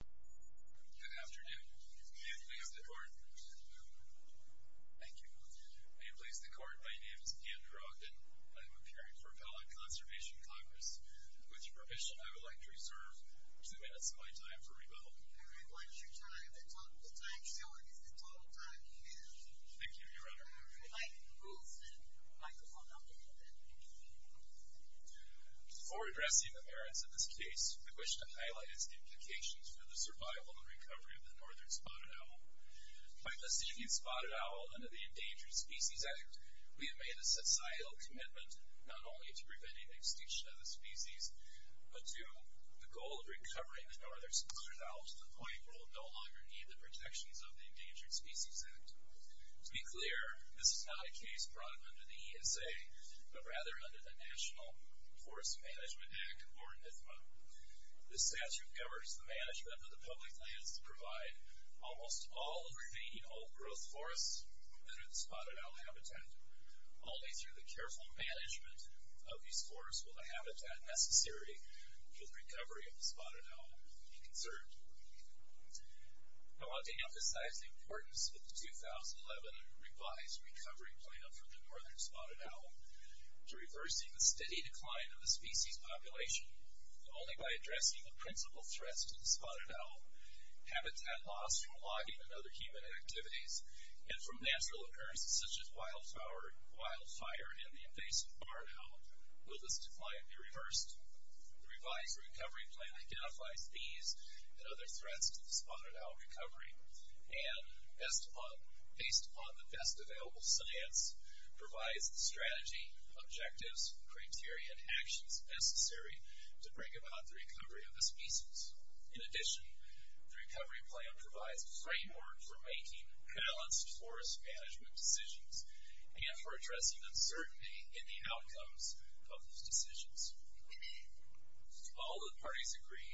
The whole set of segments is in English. Good afternoon. May it please the Court. Thank you. May it please the Court. My name is Andrew Ogden. I'm appearing for Appellate Conservation Congress. With your permission, I would like to reserve two minutes of my time for rebuttal. The time shown is the total time you have. Thank you, Your Honor. Before addressing the merits of this case, I wish to highlight its implications for the survival and recovery of the Northern Spotted Owl. By positioning the Spotted Owl under the Endangered Species Act, we have made a societal commitment not only to preventing extinction of the species, but to the goal of recovering the Northern Spotted Owl to the point where it will no longer need the protections of the Endangered Species Act. To be clear, this is not a case brought under the ESA, but rather under the National Forest Management Act, or NFMA. This statute governs the management of the public lands that provide almost all of the remaining old-growth forests that are the Spotted Owl habitat. Only through the careful management of these forests will the habitat necessary for the recovery of the Spotted Owl be conserved. I want to emphasize the importance of the 2011 revised recovery plan for the Northern Spotted Owl to reversing the steady decline of the species population. Only by addressing the principal threats to the Spotted Owl habitat loss from logging and other human activities, and from natural occurrences such as wildfire and the invasive barn owl, will this decline be reversed. The revised recovery plan identifies these and other threats to the Spotted Owl recovery, and based upon the best available science, provides the strategy, objectives, criteria, and actions necessary to bring about the recovery of the species. In addition, the recovery plan provides a framework for making balanced forest management decisions, and for addressing uncertainty in the outcomes of those decisions. All of the parties agree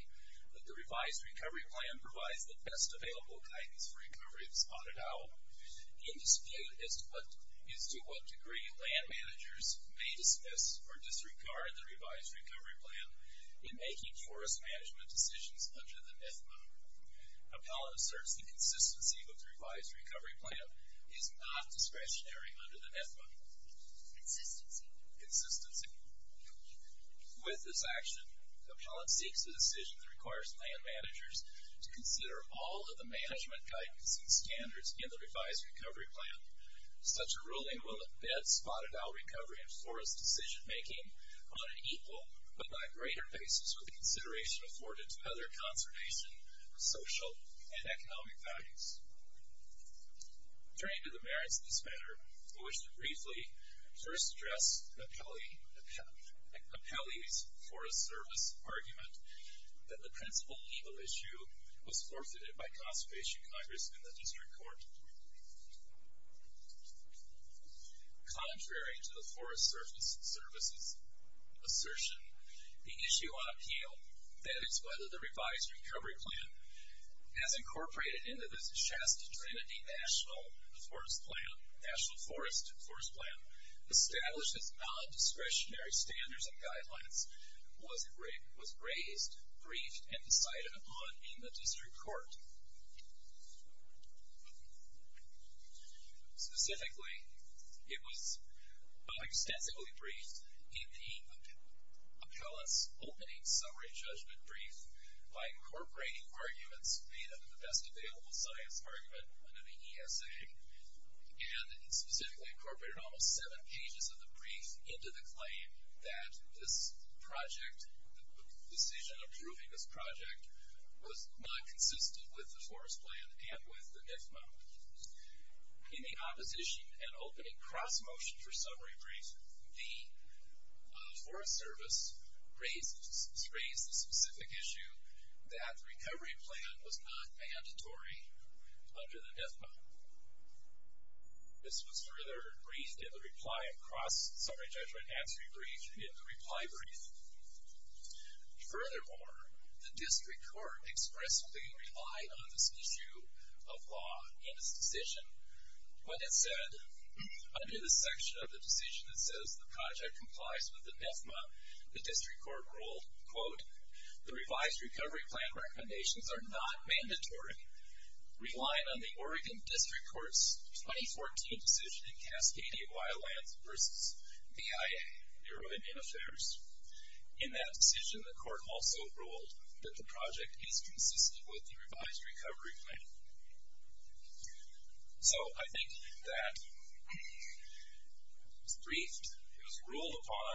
that the revised recovery plan provides the best available guidance for recovery of the Spotted Owl. In dispute as to what degree land managers may dismiss or disregard the revised recovery plan in making forest management decisions under the NFMA, Appella asserts the consistency of the revised recovery plan is not discretionary under the NFMA. Consistency. With this action, Appella seeks a decision that requires land managers to consider all of the management guidance and standards in the revised recovery plan. Such a ruling will embed Spotted Owl recovery in forest decision making on an equal but not greater basis with the consideration afforded to other conservation, social, and economic values. Turning to the merits of this matter, I wish to briefly first address Appella's Forest Service argument that the principal legal issue was forfeited by conservation congressmen in the district court. Contrary to the Forest Service's assertion, the issue on appeal, that is, whether the revised recovery plan has incorporated into the Chastity-Trinity National Forest Plan established as non-discretionary standards and guidelines, was raised, briefed, and decided upon in the district court. Specifically, it was extensively briefed in the Appella's opening summary judgment brief by incorporating arguments made under the Best Available Science argument under the ESA, and specifically incorporated almost seven pages of the brief into the claim that this project, the decision approving this project, was not consistent with the Forest Plan and with the NFMA. In the opposition and opening cross-motion for summary brief, the Forest Service raised the specific issue that the recovery plan was not mandatory under the NFMA. This was further briefed in the reply across summary judgment answer brief in the reply brief. Furthermore, the district court expressly relied on this issue of law in its decision when it said, under the section of the decision that says the project complies with the NFMA, the district court ruled, quote, in that decision, the court also ruled that the project is consistent with the revised recovery plan. So, I think that it was briefed, it was ruled upon,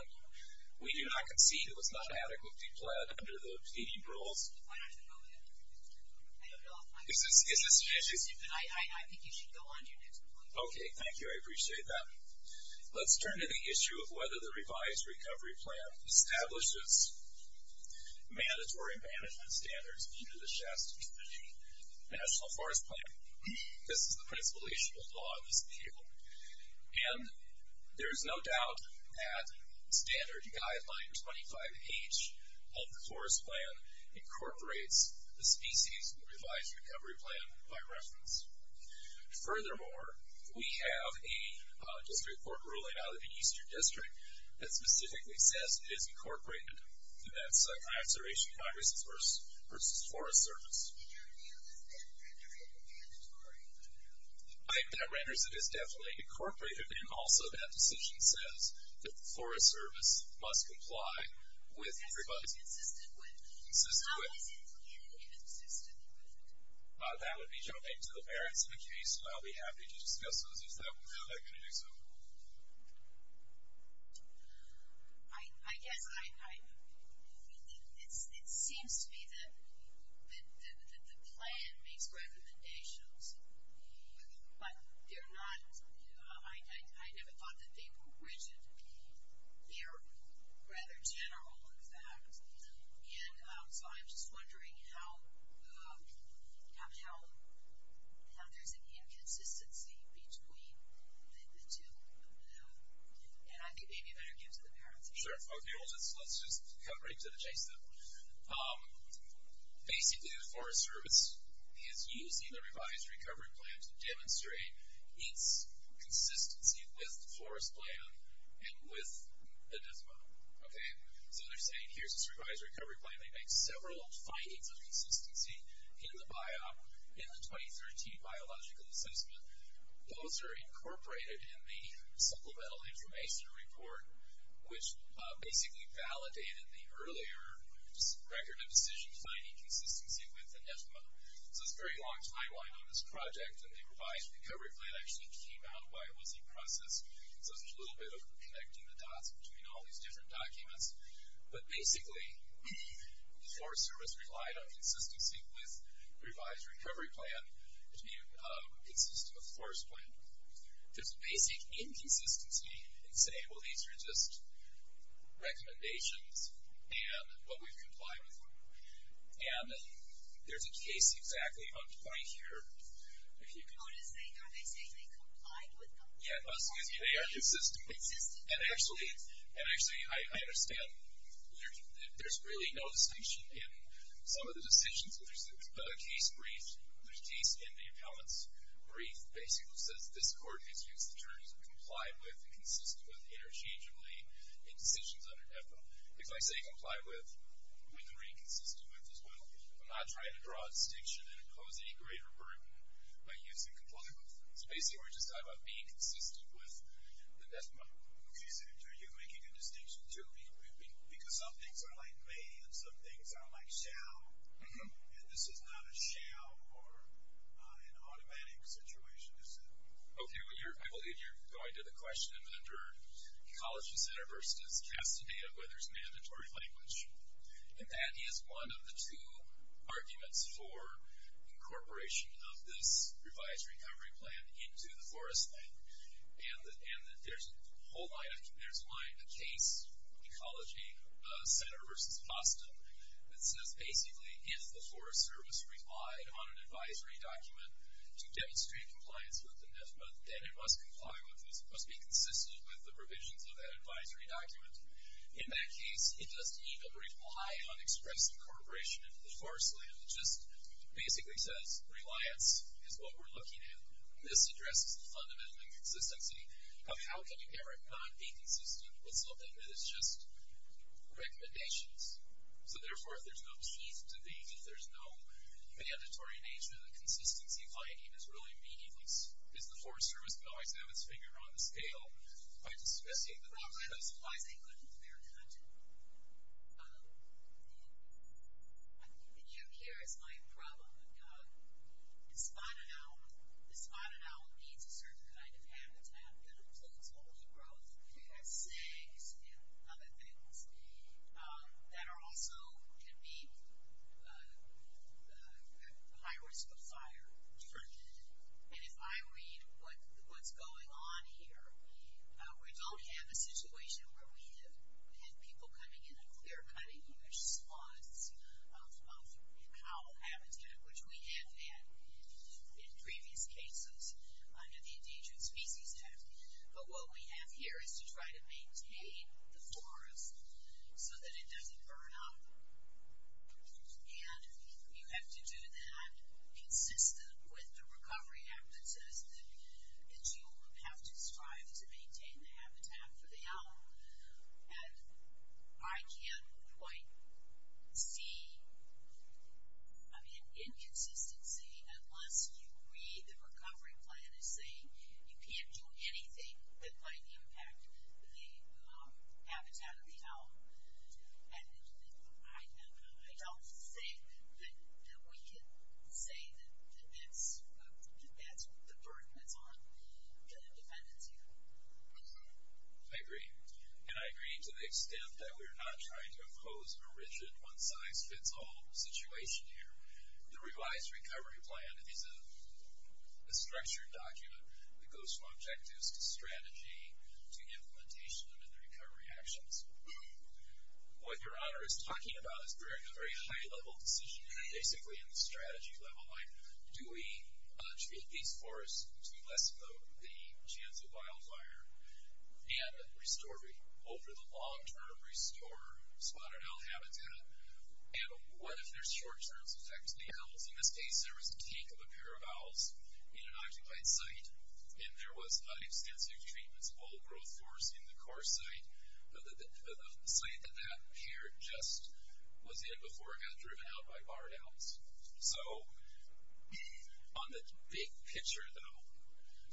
we do not concede it was not adequately pled under the feeding rules. Why don't you hold it? I don't know. Is this an issue? I think you should go on to your next point. Okay, thank you. I appreciate that. Let's turn to the issue of whether the revised recovery plan establishes mandatory management standards under the Shasta Committee National Forest Plan. This is the principal issue of law in this case. And there is no doubt that standard guideline 25H of the Forest Plan incorporates the species in the revised recovery plan by reference. Furthermore, we have a district court ruling out of the Eastern District that specifically says it is incorporated. And that's my observation, Congress' versus Forest Service. In your view, does that render it mandatory? I think that renders it as definitely incorporated. And also, that decision says that the Forest Service must comply with everybody's... That's consistent with? Consistent with. How is it clearly consistent with? That would be jumping to the parents in the case. I'll be happy to discuss those. Is that what they're going to do? I guess I... It seems to me that the plan makes recommendations, but they're not... I never thought that they were rigid. They're rather general in fact. And so I'm just wondering how there's an inconsistency between the two. And I think maybe you better get to the parents. Sure. Okay, let's just cut right to the chase then. Basically, the Forest Service is using the revised recovery plan to demonstrate its consistency with the Forest Plan and with the NISMO. Okay, so they're saying here's this revised recovery plan. They make several findings of consistency in the 2013 biological assessment. Both are incorporated in the supplemental information report, which basically validated the earlier record of decision finding consistency with the NISMO. So it's a very long timeline on this project, and the revised recovery plan actually came out while it was in process. So there's a little bit of connecting the dots between all these different documents. But basically, the Forest Service relied on consistency with the revised recovery plan, which consists of the Forest Plan. There's a basic inconsistency in saying, well, these are just recommendations and what we've complied with. And there's a case exactly on point here. Oh, are they saying they complied with them? Yeah, they are consistent. Consistent? And actually, I understand there's really no distinction in some of the decisions. There's a case brief. There's a case in the appellant's brief that basically says this court has used the terms of complied with and consistent with interchangeably in decisions under NIFA. If I say complied with, we can read consistent with as well. I'm not trying to draw a distinction and impose any greater burden by using complied with. So basically, we're just talking about being consistent with the NIFA. Okay, so are you making a distinction, too? Because some things are like may and some things are like shall, and this is not a shall or an automatic situation, is it? Okay, well, I believe you're going to the question under college-specific versus custody where there's mandatory language. And that is one of the two arguments for incorporation of this revised recovery plan into the Forest Act. And there's a whole line of, there's a line, a case, Ecology Center versus Boston, that says basically if the Forest Service relied on an advisory document to demonstrate compliance with the NIFA, then it must comply with, it must be consistent with the provisions of that advisory document. In that case, it doesn't even rely on expressive incorporation into the forest land. It just basically says reliance is what we're looking at. This addresses the fundamental inconsistency of how can you ever not be consistent with something that is just recommendations. So therefore, if there's no need to be, if there's no mandatory nature, the consistency finding is really meaningless. Is the Forest Service going to always have its finger on the scale by discussing the content? That's a problem. That's why they couldn't compare content. And here is my problem. The spotted owl needs a certain kind of habitat that includes overgrowth, that's snakes and other things, that are also, can be at high risk of fire. And if I read what's going on here, we don't have a situation where we have had people coming in and clear-cutting huge swaths of owl habitat, which we have had in previous cases under the Endangered Species Act. But what we have here is to try to maintain the forest so that it doesn't burn up. And you have to do that consistent with the recovery act that says that you have to strive to maintain the habitat for the owl. And I can't quite see, I mean, inconsistency unless you read the recovery plan as saying you can't do anything that might impact the habitat of the owl. And I don't think that we can say that that's the burden that's on the defendants here. I agree. And I agree to the extent that we're not trying to impose a rigid one-size-fits-all situation here. The revised recovery plan is a structured document that goes from objectives to strategy to implementation and then the recovery actions. What Your Honor is talking about is a very high-level decision, basically in the strategy level, like do we treat these forests to lessen the chance of wildfire, and over the long-term restore spotted owl habitat, and what if there's short-term effects to the owls? In this case, there was a take of a pair of owls in an occupied site, and there was an extensive treatments of all growth forests in the core site. The site that that pair just was in before it got driven out by barred owls. So on the big picture, though,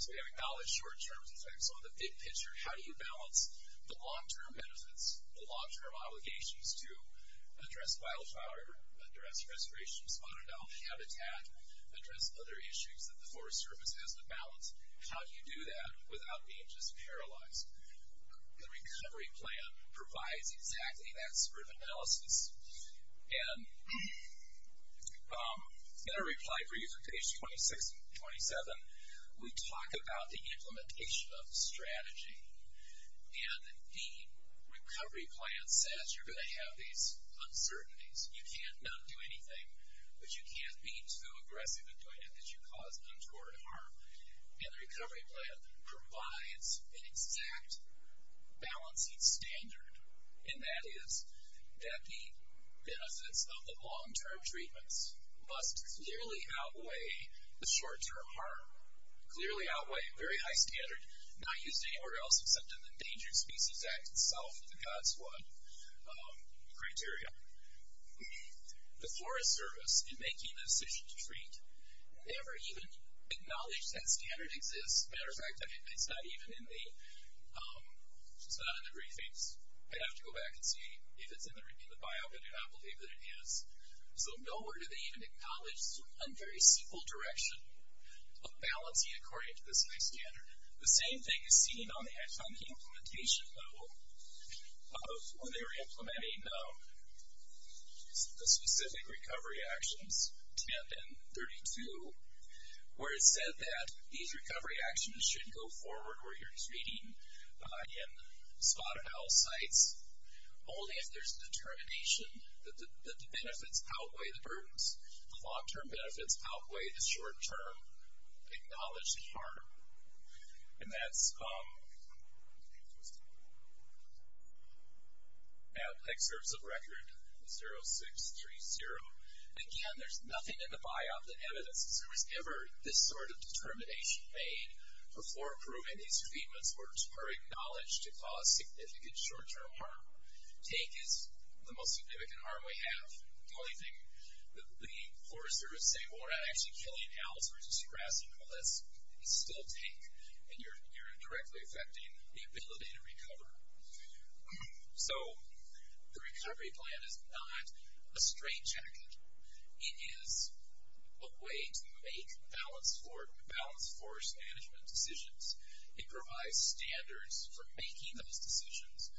so we have acknowledged short-term effects. On the big picture, how do you balance the long-term benefits, the long-term obligations to address wildfire, address restoration of spotted owl habitat, address other issues that the Forest Service has to balance? How do you do that without being just paralyzed? The recovery plan provides exactly that sort of analysis. And in a reply for you from page 26 and 27, we talk about the implementation of strategy, and the recovery plan says you're going to have these uncertainties. You can't not do anything, but you can't be too aggressive in doing it that you cause untoward harm. And the recovery plan provides an exact balancing standard, and that is that the benefits of the long-term treatments must clearly outweigh the short-term harm, clearly outweigh a very high standard not used anywhere else except in the Endangered Species Act itself with the God's One criteria. The Forest Service, in making the decision to treat, never even acknowledged that standard exists. As a matter of fact, it's not even in the briefings. I'd have to go back and see if it's in the bio, but I do not believe that it is. So nowhere do they even acknowledge a very simple direction of balancing according to this high standard. The same thing is seen on the ad-hoc implementation level of when they were implementing the specific recovery actions, 10 and 32, where it said that these recovery actions should go forward where you're treating in spotted house sites only if there's a determination that the benefits outweigh the burdens. The long-term benefits outweigh the short-term acknowledged harm. And that's at Excerpts of Record 0630. Again, there's nothing in the biop that evidences there was ever this sort of determination made before approving these treatments were acknowledged to cause significant short-term harm. Take is the most significant harm we have. The only thing that the Forest Service say, well, we're not actually killing owls versus grass. Well, that's still take, and you're directly affecting the ability to recover. So the recovery plan is not a straight jacket. It is a way to make balanced forest management decisions. It provides standards for making those decisions.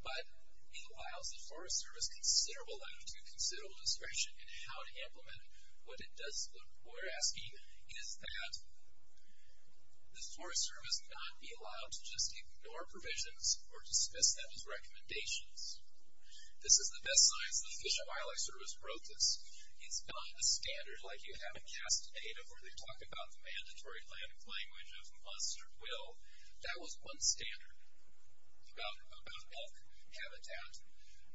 But in the wilds, the Forest Service considerable level to considerable discretion in how to implement what it does. What we're asking is that the Forest Service not be allowed to just ignore provisions or dismiss them as recommendations. This is the best science that the Fish and Wildlife Service wrote this. It's not a standard like you have in CAST data where they talk about the mandatory language of must or will. That was one standard about elk habitat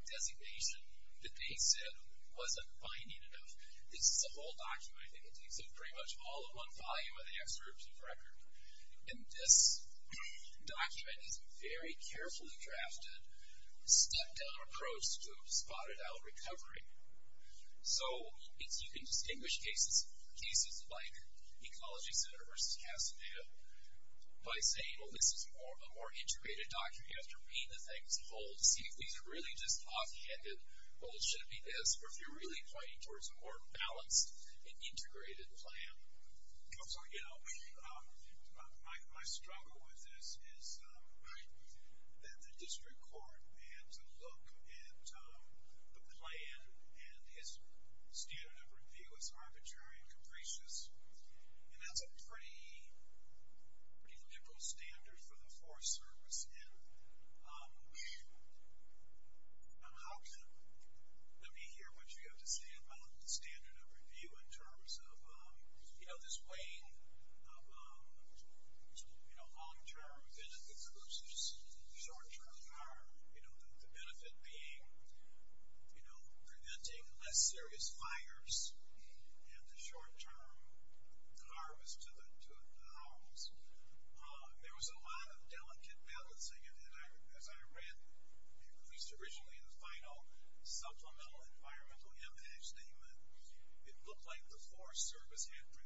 designation that they said wasn't binding enough. This is a whole document. I think it takes up pretty much all of one volume of the excerpt of record. And this document is a very carefully drafted, step-down approach to spotted owl recovery. So you can distinguish cases like Ecology Center versus CAST data by saying, well, this is a more integrated document. You have to read the thing as a whole to see if these are really just offhanded, well, it should be this, or if you're really pointing towards a more balanced and integrated plan. My struggle with this is that the district court had to look at the plan and his standard of review is arbitrary and capricious. And that's a pretty liberal standard for the Forest Service. Let me hear what you have to say about the standard of review in terms of this weighing of long-term benefits versus short-term harm. The benefit being preventing less serious fires and the short-term harm is to the owls. There was a lot of delicate balancing. And as I read, at least originally in the final supplemental environmental impact statement, it looked like the Forest Service had reviewed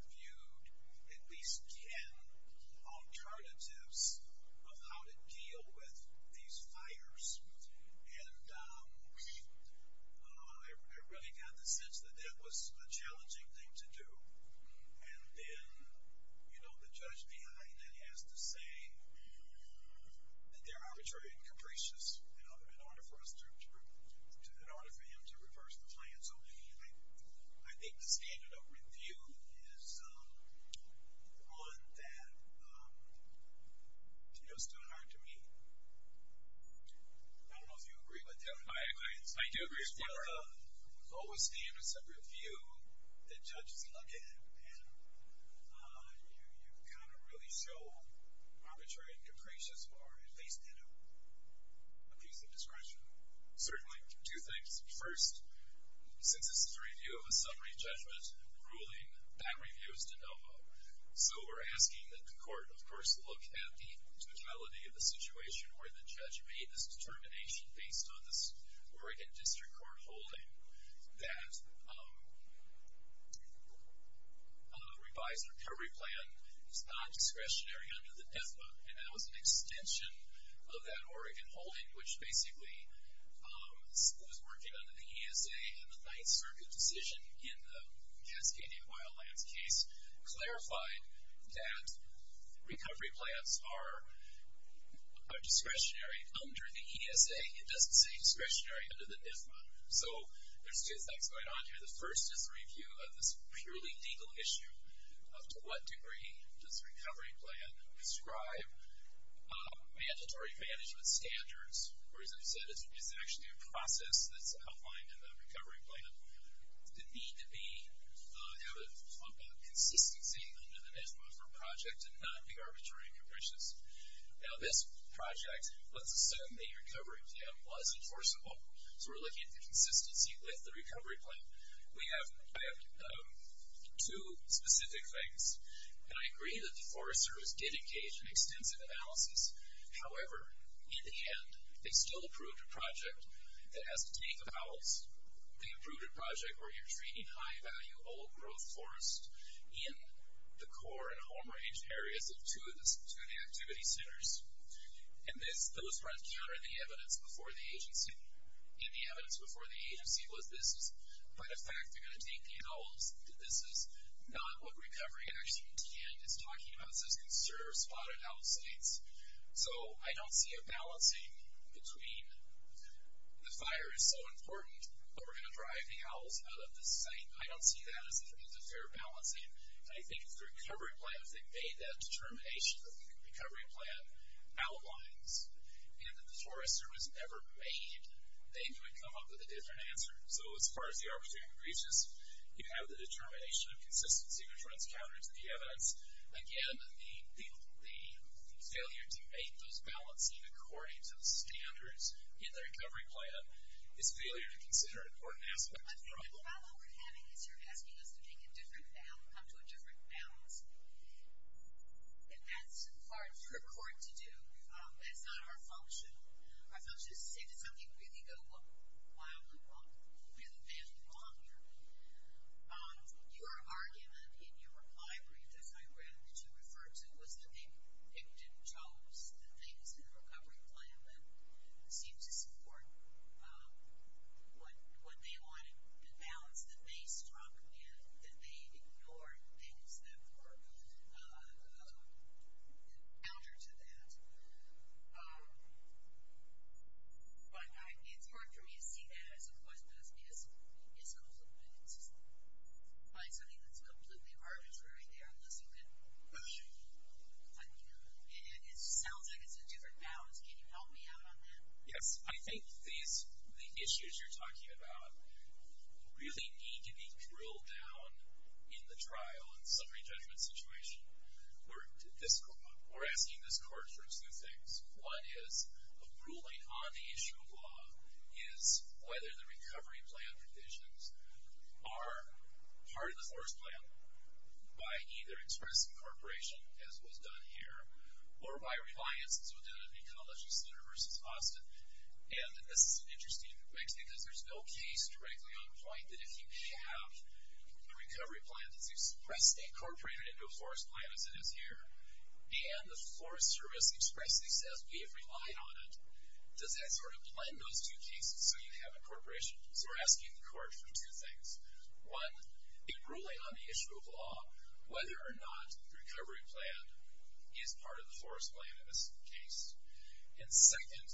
at least 10 alternatives of how to deal with these fires. And I really got the sense that that was a challenging thing to do. And then, you know, the judge behind it has to say that they're arbitrary and capricious in order for him to reverse the plan. So I think the standard of review is one that feels too hard to me. I don't know if you agree with that. I agree. I do agree. I think the lowest aim is a review that judges look at and you've kind of really shown arbitrary and capricious are at least a piece of discretion. Certainly. Two things. First, since this is a review of a summary judgment ruling, that review is de novo. So we're asking that the court, of course, look at the totality of the situation where the judge made this determination based on this Oregon District Court holding that a revised recovery plan is not discretionary under the DEFA. And that was an extension of that Oregon holding, which basically was working under the ESA in the Ninth Circuit decision in the Cascadia Wildlands case, clarified that recovery plans are discretionary under the ESA. It doesn't say discretionary under the DEFA. So there's two things going on here. The first is a review of this purely legal issue of to what degree does the recovery plan prescribe mandatory management standards, or as I've said, it's actually a process that's outlined in the recovery plan. The need to have a consistency under the NISPO for a project and not be arbitrary and capricious. Now, this project, let's assume the recovery plan was enforceable. So we're looking at the consistency with the recovery plan. We have two specific things, and I agree that the Forest Service did engage in extensive analysis. However, in the end, they still approved a project that has to take about the approved project where you're treating high-value old-growth forest in the core and home-range areas of two of the activity centers. And those were encountered in the evidence before the agency. And the evidence before the agency was this is quite a fact. They're going to take the adults. This is not what recovery actually contained. It's talking about this conserved spotted owl sites. So I don't see a balancing between the fire is so important, but we're going to drive the owls out of the site. I don't see that as a fair balancing. And I think if the recovery plan, if they made that determination, that the recovery plan outlines and that the Forest Service never made, they would come up with a different answer. So as far as the arbitrariness is, you have the determination of consistency, which runs counter to the evidence. Again, the failure to make those balancing according to the standards in the recovery plan is a failure to consider important aspects. The problem we're having is you're asking us to take a different path and come to a different balance. And that's hard for a court to do. That's not our function. Our function is to say, did something really go wrong? Why are we wrong? We haven't been wrong here. Your argument in your reply brief, as I read, that you referred to, was that they didn't chose the things in the recovery plan that seemed to support what they wanted to balance, that they struck in, that they ignored things that were counter to that. But it's hard for me to see that, I suppose, because it's something that's completely arbitrary there. It sounds like it's a different balance. Can you help me out on that? Yes. I think the issues you're talking about really need to be drilled down in the trial and summary judgment situation. We're asking this court for two things. One is a ruling on the issue of law is whether the recovery plan provisions are part of the forest plan by either express incorporation, as was done here, or by reliance to the Ecology Center versus Austin. And this is an interesting mix because there's no case directly on point that if you have a recovery plan that's expressed, incorporated into a forest plan, as it is here, and the Forest Service expressly says we have relied on it, does that sort of blend those two cases so you have incorporation? So we're asking the court for two things. One, a ruling on the issue of law, whether or not the recovery plan is part of the forest plan in this case. And second,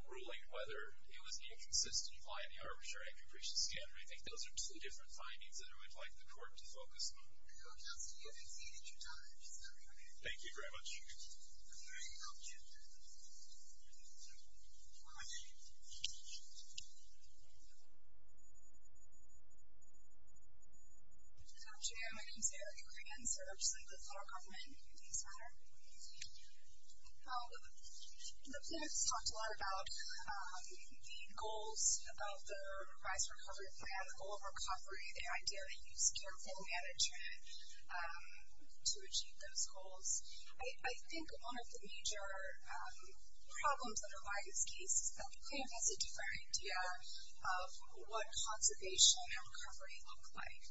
a ruling whether it was inconsistent by the arbitrary accumulation standard. I think those are two different findings that I would like the court to focus on. Okay. Well, counsel, you have exceeded your time. Is that okay? Thank you very much. Are there any other questions? Questions? Good afternoon. My name is Amy Corrigan, and I'm representing the federal government in this matter. The plan has talked a lot about the goals of the revised recovery plan, the goal of recovery, the idea that you use careful management to achieve those goals. I think one of the major problems that arise in this case is that the plan has a different idea of what conservation and recovery look like.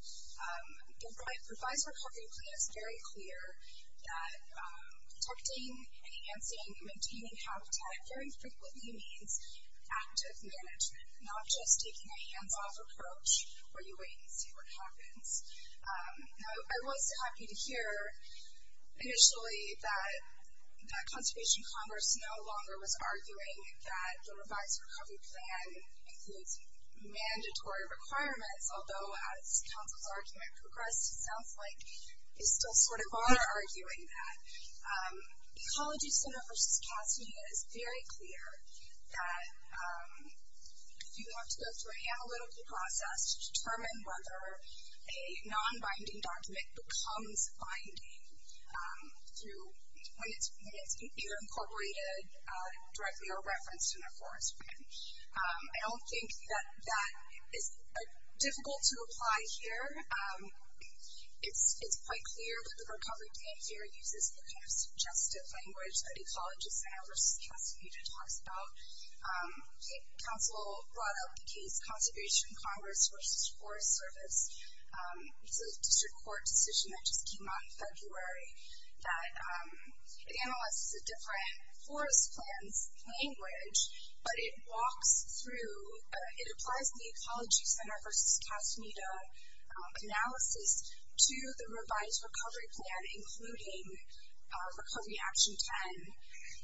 The revised recovery plan is very clear that protecting, enhancing, and maintaining habitat very frequently means active management, not just taking a hands-off approach where you wait and see what happens. Now, I was happy to hear initially that Conservation Congress no longer was arguing that the revised recovery plan includes mandatory requirements, although as counsel's argument progressed, it sounds like they still sort of are arguing that. Ecology Center v. CASI is very clear that if you want to go through a analytical process to determine whether a non-binding document becomes binding when it's either incorporated directly or referenced in a forest plan, I don't think that that is difficult to apply here. It's quite clear that the recovery plan here uses the kind of suggestive language that Ecology Center v. CASI talks about. Counsel brought up the case Conservation Congress v. Forest Service. It's a district court decision that just came out in February that analyzes a different forest plan's language, but it walks through, it applies the Ecology Center v. CASI analysis to the revised recovery plan, including Recovery Action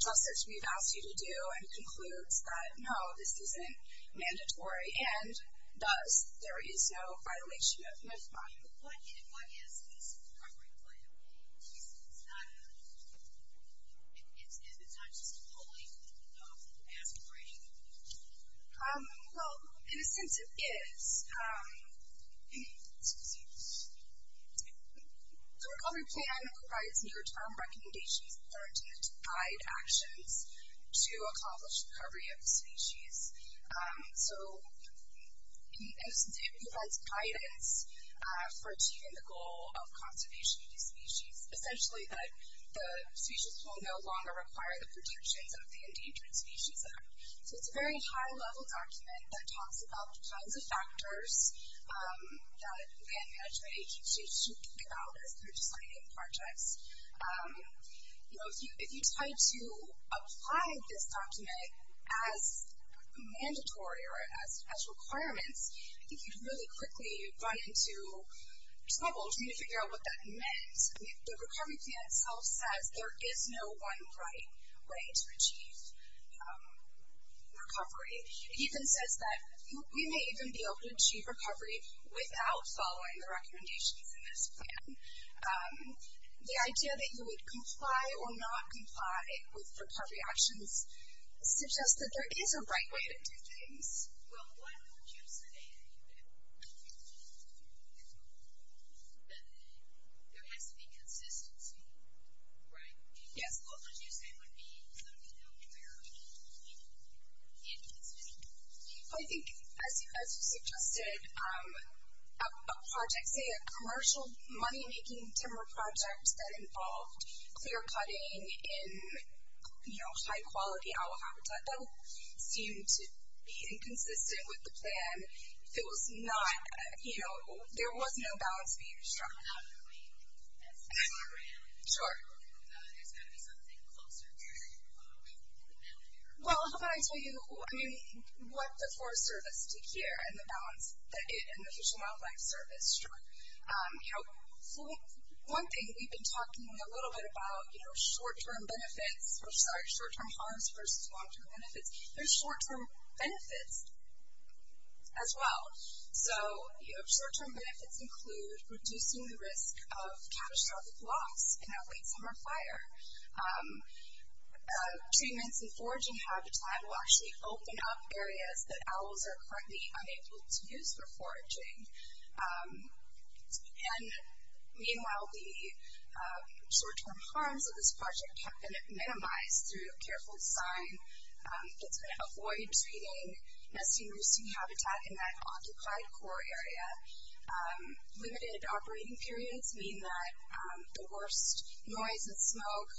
10. Just as we've asked you to do, and concludes that, no, this isn't mandatory. What is this recovery plan? It's not just wholly aspirational. Well, in a sense it is. Excuse me. The recovery plan provides near-term recommendations that are intended to guide actions to accomplish recovery of the species. It provides guidance for achieving the goal of conservation of the species, essentially that the species will no longer require the protections of the Endangered Species Act. It's a very high-level document that talks about the kinds of factors that land management agencies should think about as they're designing projects. You know, if you tried to apply this document as mandatory or as requirements, I think you'd really quickly run into trouble trying to figure out what that meant. The recovery plan itself says there is no one right way to achieve recovery. It even says that we may even be able to achieve recovery without following the recommendations in this plan. The idea that you would comply or not comply with recovery actions suggests that there is a right way to do things. Well, why would you say that there has to be consistency? Right? Yes. What would you say would be something that would require any consistency? I think, as you suggested, a project, say a commercial money-making timber project that involved clear-cutting in, you know, high-quality owl habitat, that would seem to be inconsistent with the plan if it was not, you know, there was no balance being struck. Sure. Well, how about I tell you, I mean, what the Forest Service did here and the balance that it and the Fish and Wildlife Service struck. You know, one thing we've been talking a little bit about, you know, short-term benefits, I'm sorry, short-term harms versus long-term benefits. There's short-term benefits as well. So, you know, short-term benefits include reducing the risk of catastrophic loss in a late summer fire. Treatments in foraging habitat will actually open up areas that owls are currently unable to use for foraging. And meanwhile, the short-term harms of this project have been minimized through careful design that's going to avoid treating nesting roosting habitat in that occupied quarry area. Limited operating periods mean that the worst noise and smoke,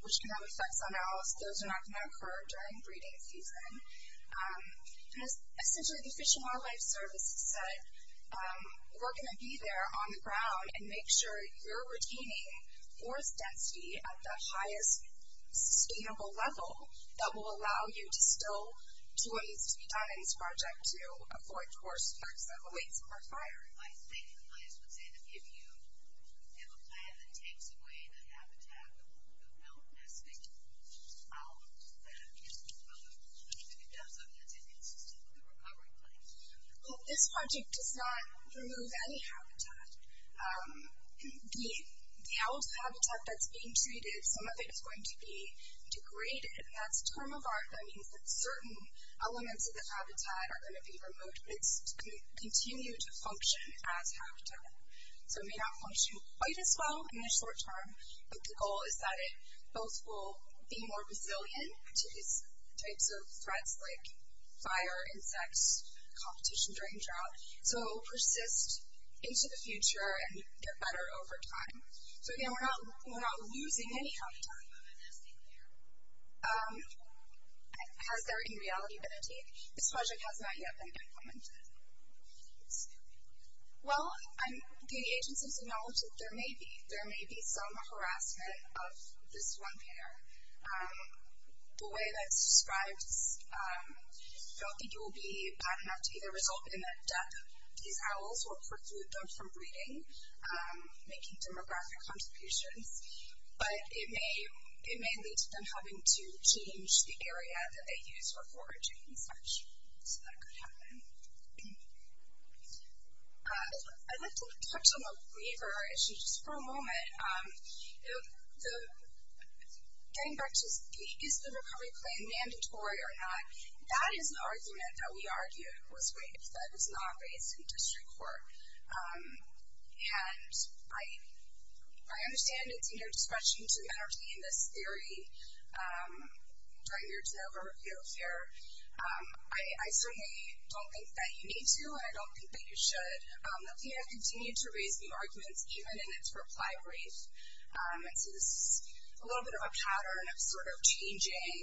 which can have effects on owls, those are not going to occur during breeding season. Essentially, the Fish and Wildlife Service said, we're going to be there on the ground and make sure you're retaining forest density at the highest sustainable level that will allow you to still do what waits for a fire. I think the bias would say that if you have a plan that takes away the habitat of the owl nesting owls, that it's going to be done so that it's a consistently recovering plan. Well, this project does not remove any habitat. The owl's habitat that's being treated, some of it is going to be degraded. And that's a term of art that means that certain elements of the habitat are going to be removed, but it's going to continue to function as habitat. So it may not function quite as well in the short term, but the goal is that it both will be more resilient to these types of threats like fire, insects, competition during drought. So it will persist into the future and get better over time. So, again, we're not losing any habitat. Has there in reality been a take? This project has not yet been implemented. Well, the agency's acknowledged that there may be some harassment of this one pair. The way that it's described, I don't think it will be bad enough to either result in the death of these owls or preclude them from breeding, making demographic contributions. But it may lead to them having to change the area that they use for foraging and such, so that could happen. I'd like to touch on a waiver issue just for a moment. Getting back to is the recovery plan mandatory or not, that is an argument that we argued was raised, that it's not raised in district court. And I understand it's in your discretion to entertain this theory, during your delivery of your affair. I certainly don't think that you need to, and I don't think that you should. The theater continued to raise new arguments, even in its reply brief. And so this is a little bit of a pattern of sort of changing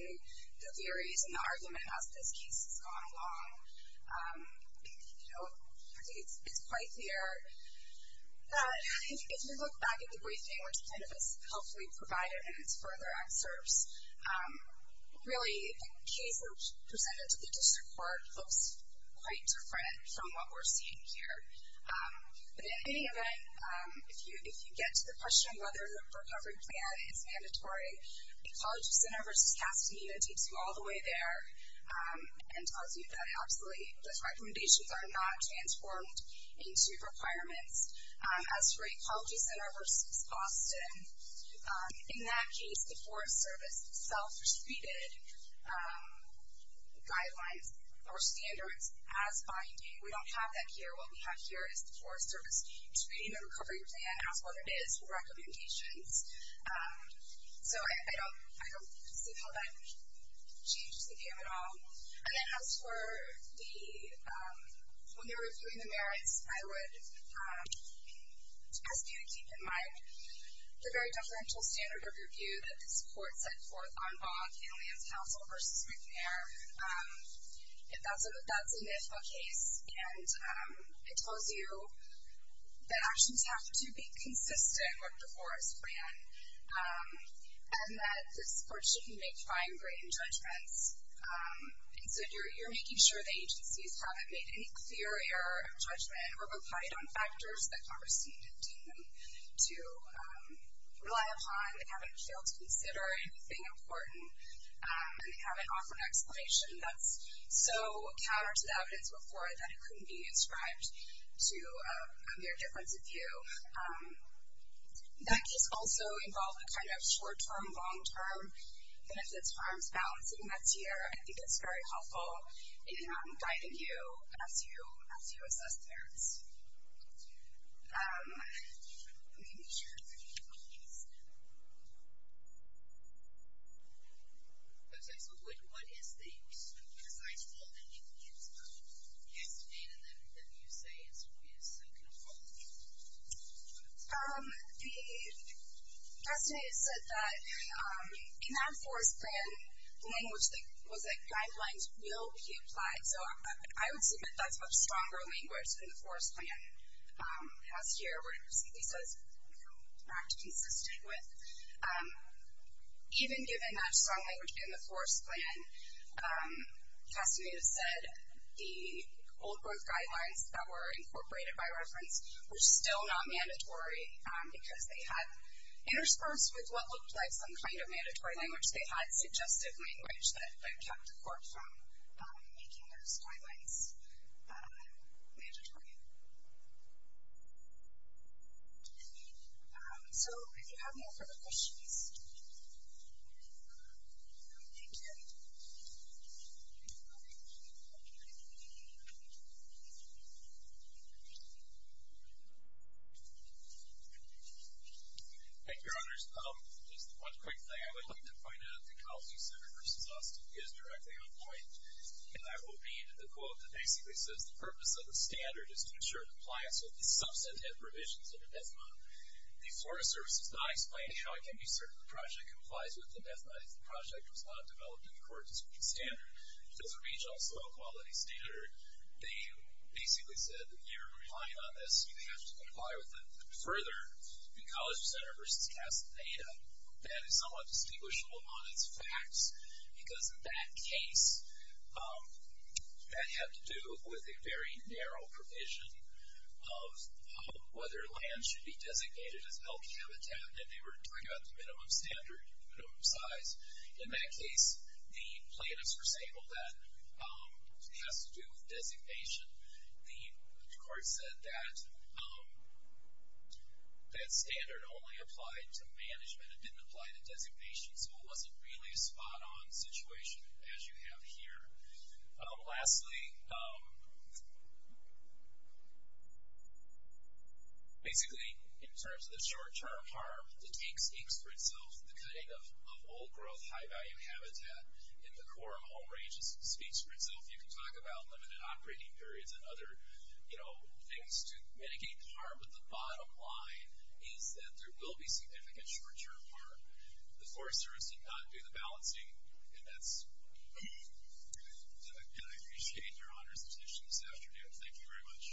the theories and the argument as this case has gone along. You know, I think it's quite clear. If you look back at the briefing, which kind of is helpfully provided in its further excerpts, really the case presented to the district court looks quite different from what we're seeing here. But in any event, if you get to the question of whether the recovery plan is mandatory, the College Center versus Castaneda takes you all the way there and tells you that absolutely those recommendations are not transformed into requirements. As for a College Center versus Boston, in that case the Forest Service self-restated guidelines or standards as binding. We don't have that here. What we have here is the Forest Service treating the recovery plan as what it is, recommendations. So I don't see how that changes the game at all. And then as for when they were reviewing the merits, I would ask you to keep in mind the very deferential standard of review that this court set forth on Bog and Land Council versus McNair. That's a NIFA case, and it tells you that actions have to be consistent with the Forest plan, and that this court shouldn't make fine-grained judgments. And so you're making sure that agencies haven't made any clear error of judgment or relied on factors that Congress didn't intend them to rely upon. They haven't failed to consider anything important, and they haven't offered an explanation that's so counter to the evidence before that it couldn't be inscribed to their difference of view. That case also involved a kind of short-term, long-term, and if the terms balance in that tier, I think that's very helpful in guiding you as you assess the merits. Let me make sure that I can get this. Okay. So what is the precise rule that you used yesterday that you say is kind of wrong? Yesterday it said that in that Forest plan, the language that was at guidelines will be applied. So I would submit that's a much stronger language than the Forest plan. Last year, we're going to see these as, you know, not consistent with. Even given that strong language in the Forest plan, testimony has said the old-growth guidelines that were incorporated by reference were still not mandatory because they had, interspersed with what looked like some kind of mandatory language, they had suggestive language that kept the court from making those guidelines mandatory. So if you have no further questions. Thank you. Thank you, Your Honors. Just one quick thing. I would like to point out that the Counseling Center versus us is directly on point. And that will be the quote that basically says, the purpose of the standard is to ensure compliance with the substantive provisions of the DEFMA. The Forest Service is not explaining how it can be certain the project complies with the DEFMA if the project was not developed in accordance with the standard. Because the Regional Soil Quality Standard, they basically said that if you're relying on this, you have to comply with it. Further, the Counseling Center versus CASA Theta, that is somewhat distinguishable on its facts because in that case, that had to do with a very narrow provision of whether land should be designated as healthy habitat. And they were talking about the minimum standard and the minimum size. In that case, the plaintiffs were saying, well, that has to do with designation. The court said that that standard only applied to management. It didn't apply to designation. So it wasn't really a spot-on situation as you have here. Lastly, basically, in terms of the short-term harm, the tank speaks for itself. The cutting of old-growth, high-value habitat in the core of home ranges speaks for itself. You can talk about limited operating periods and other, you know, things to mitigate the harm. But the bottom line is that there will be significant short-term harm. The forest service did not do the balancing. And I appreciate your honors position this afternoon. Thank you very much. Thank you.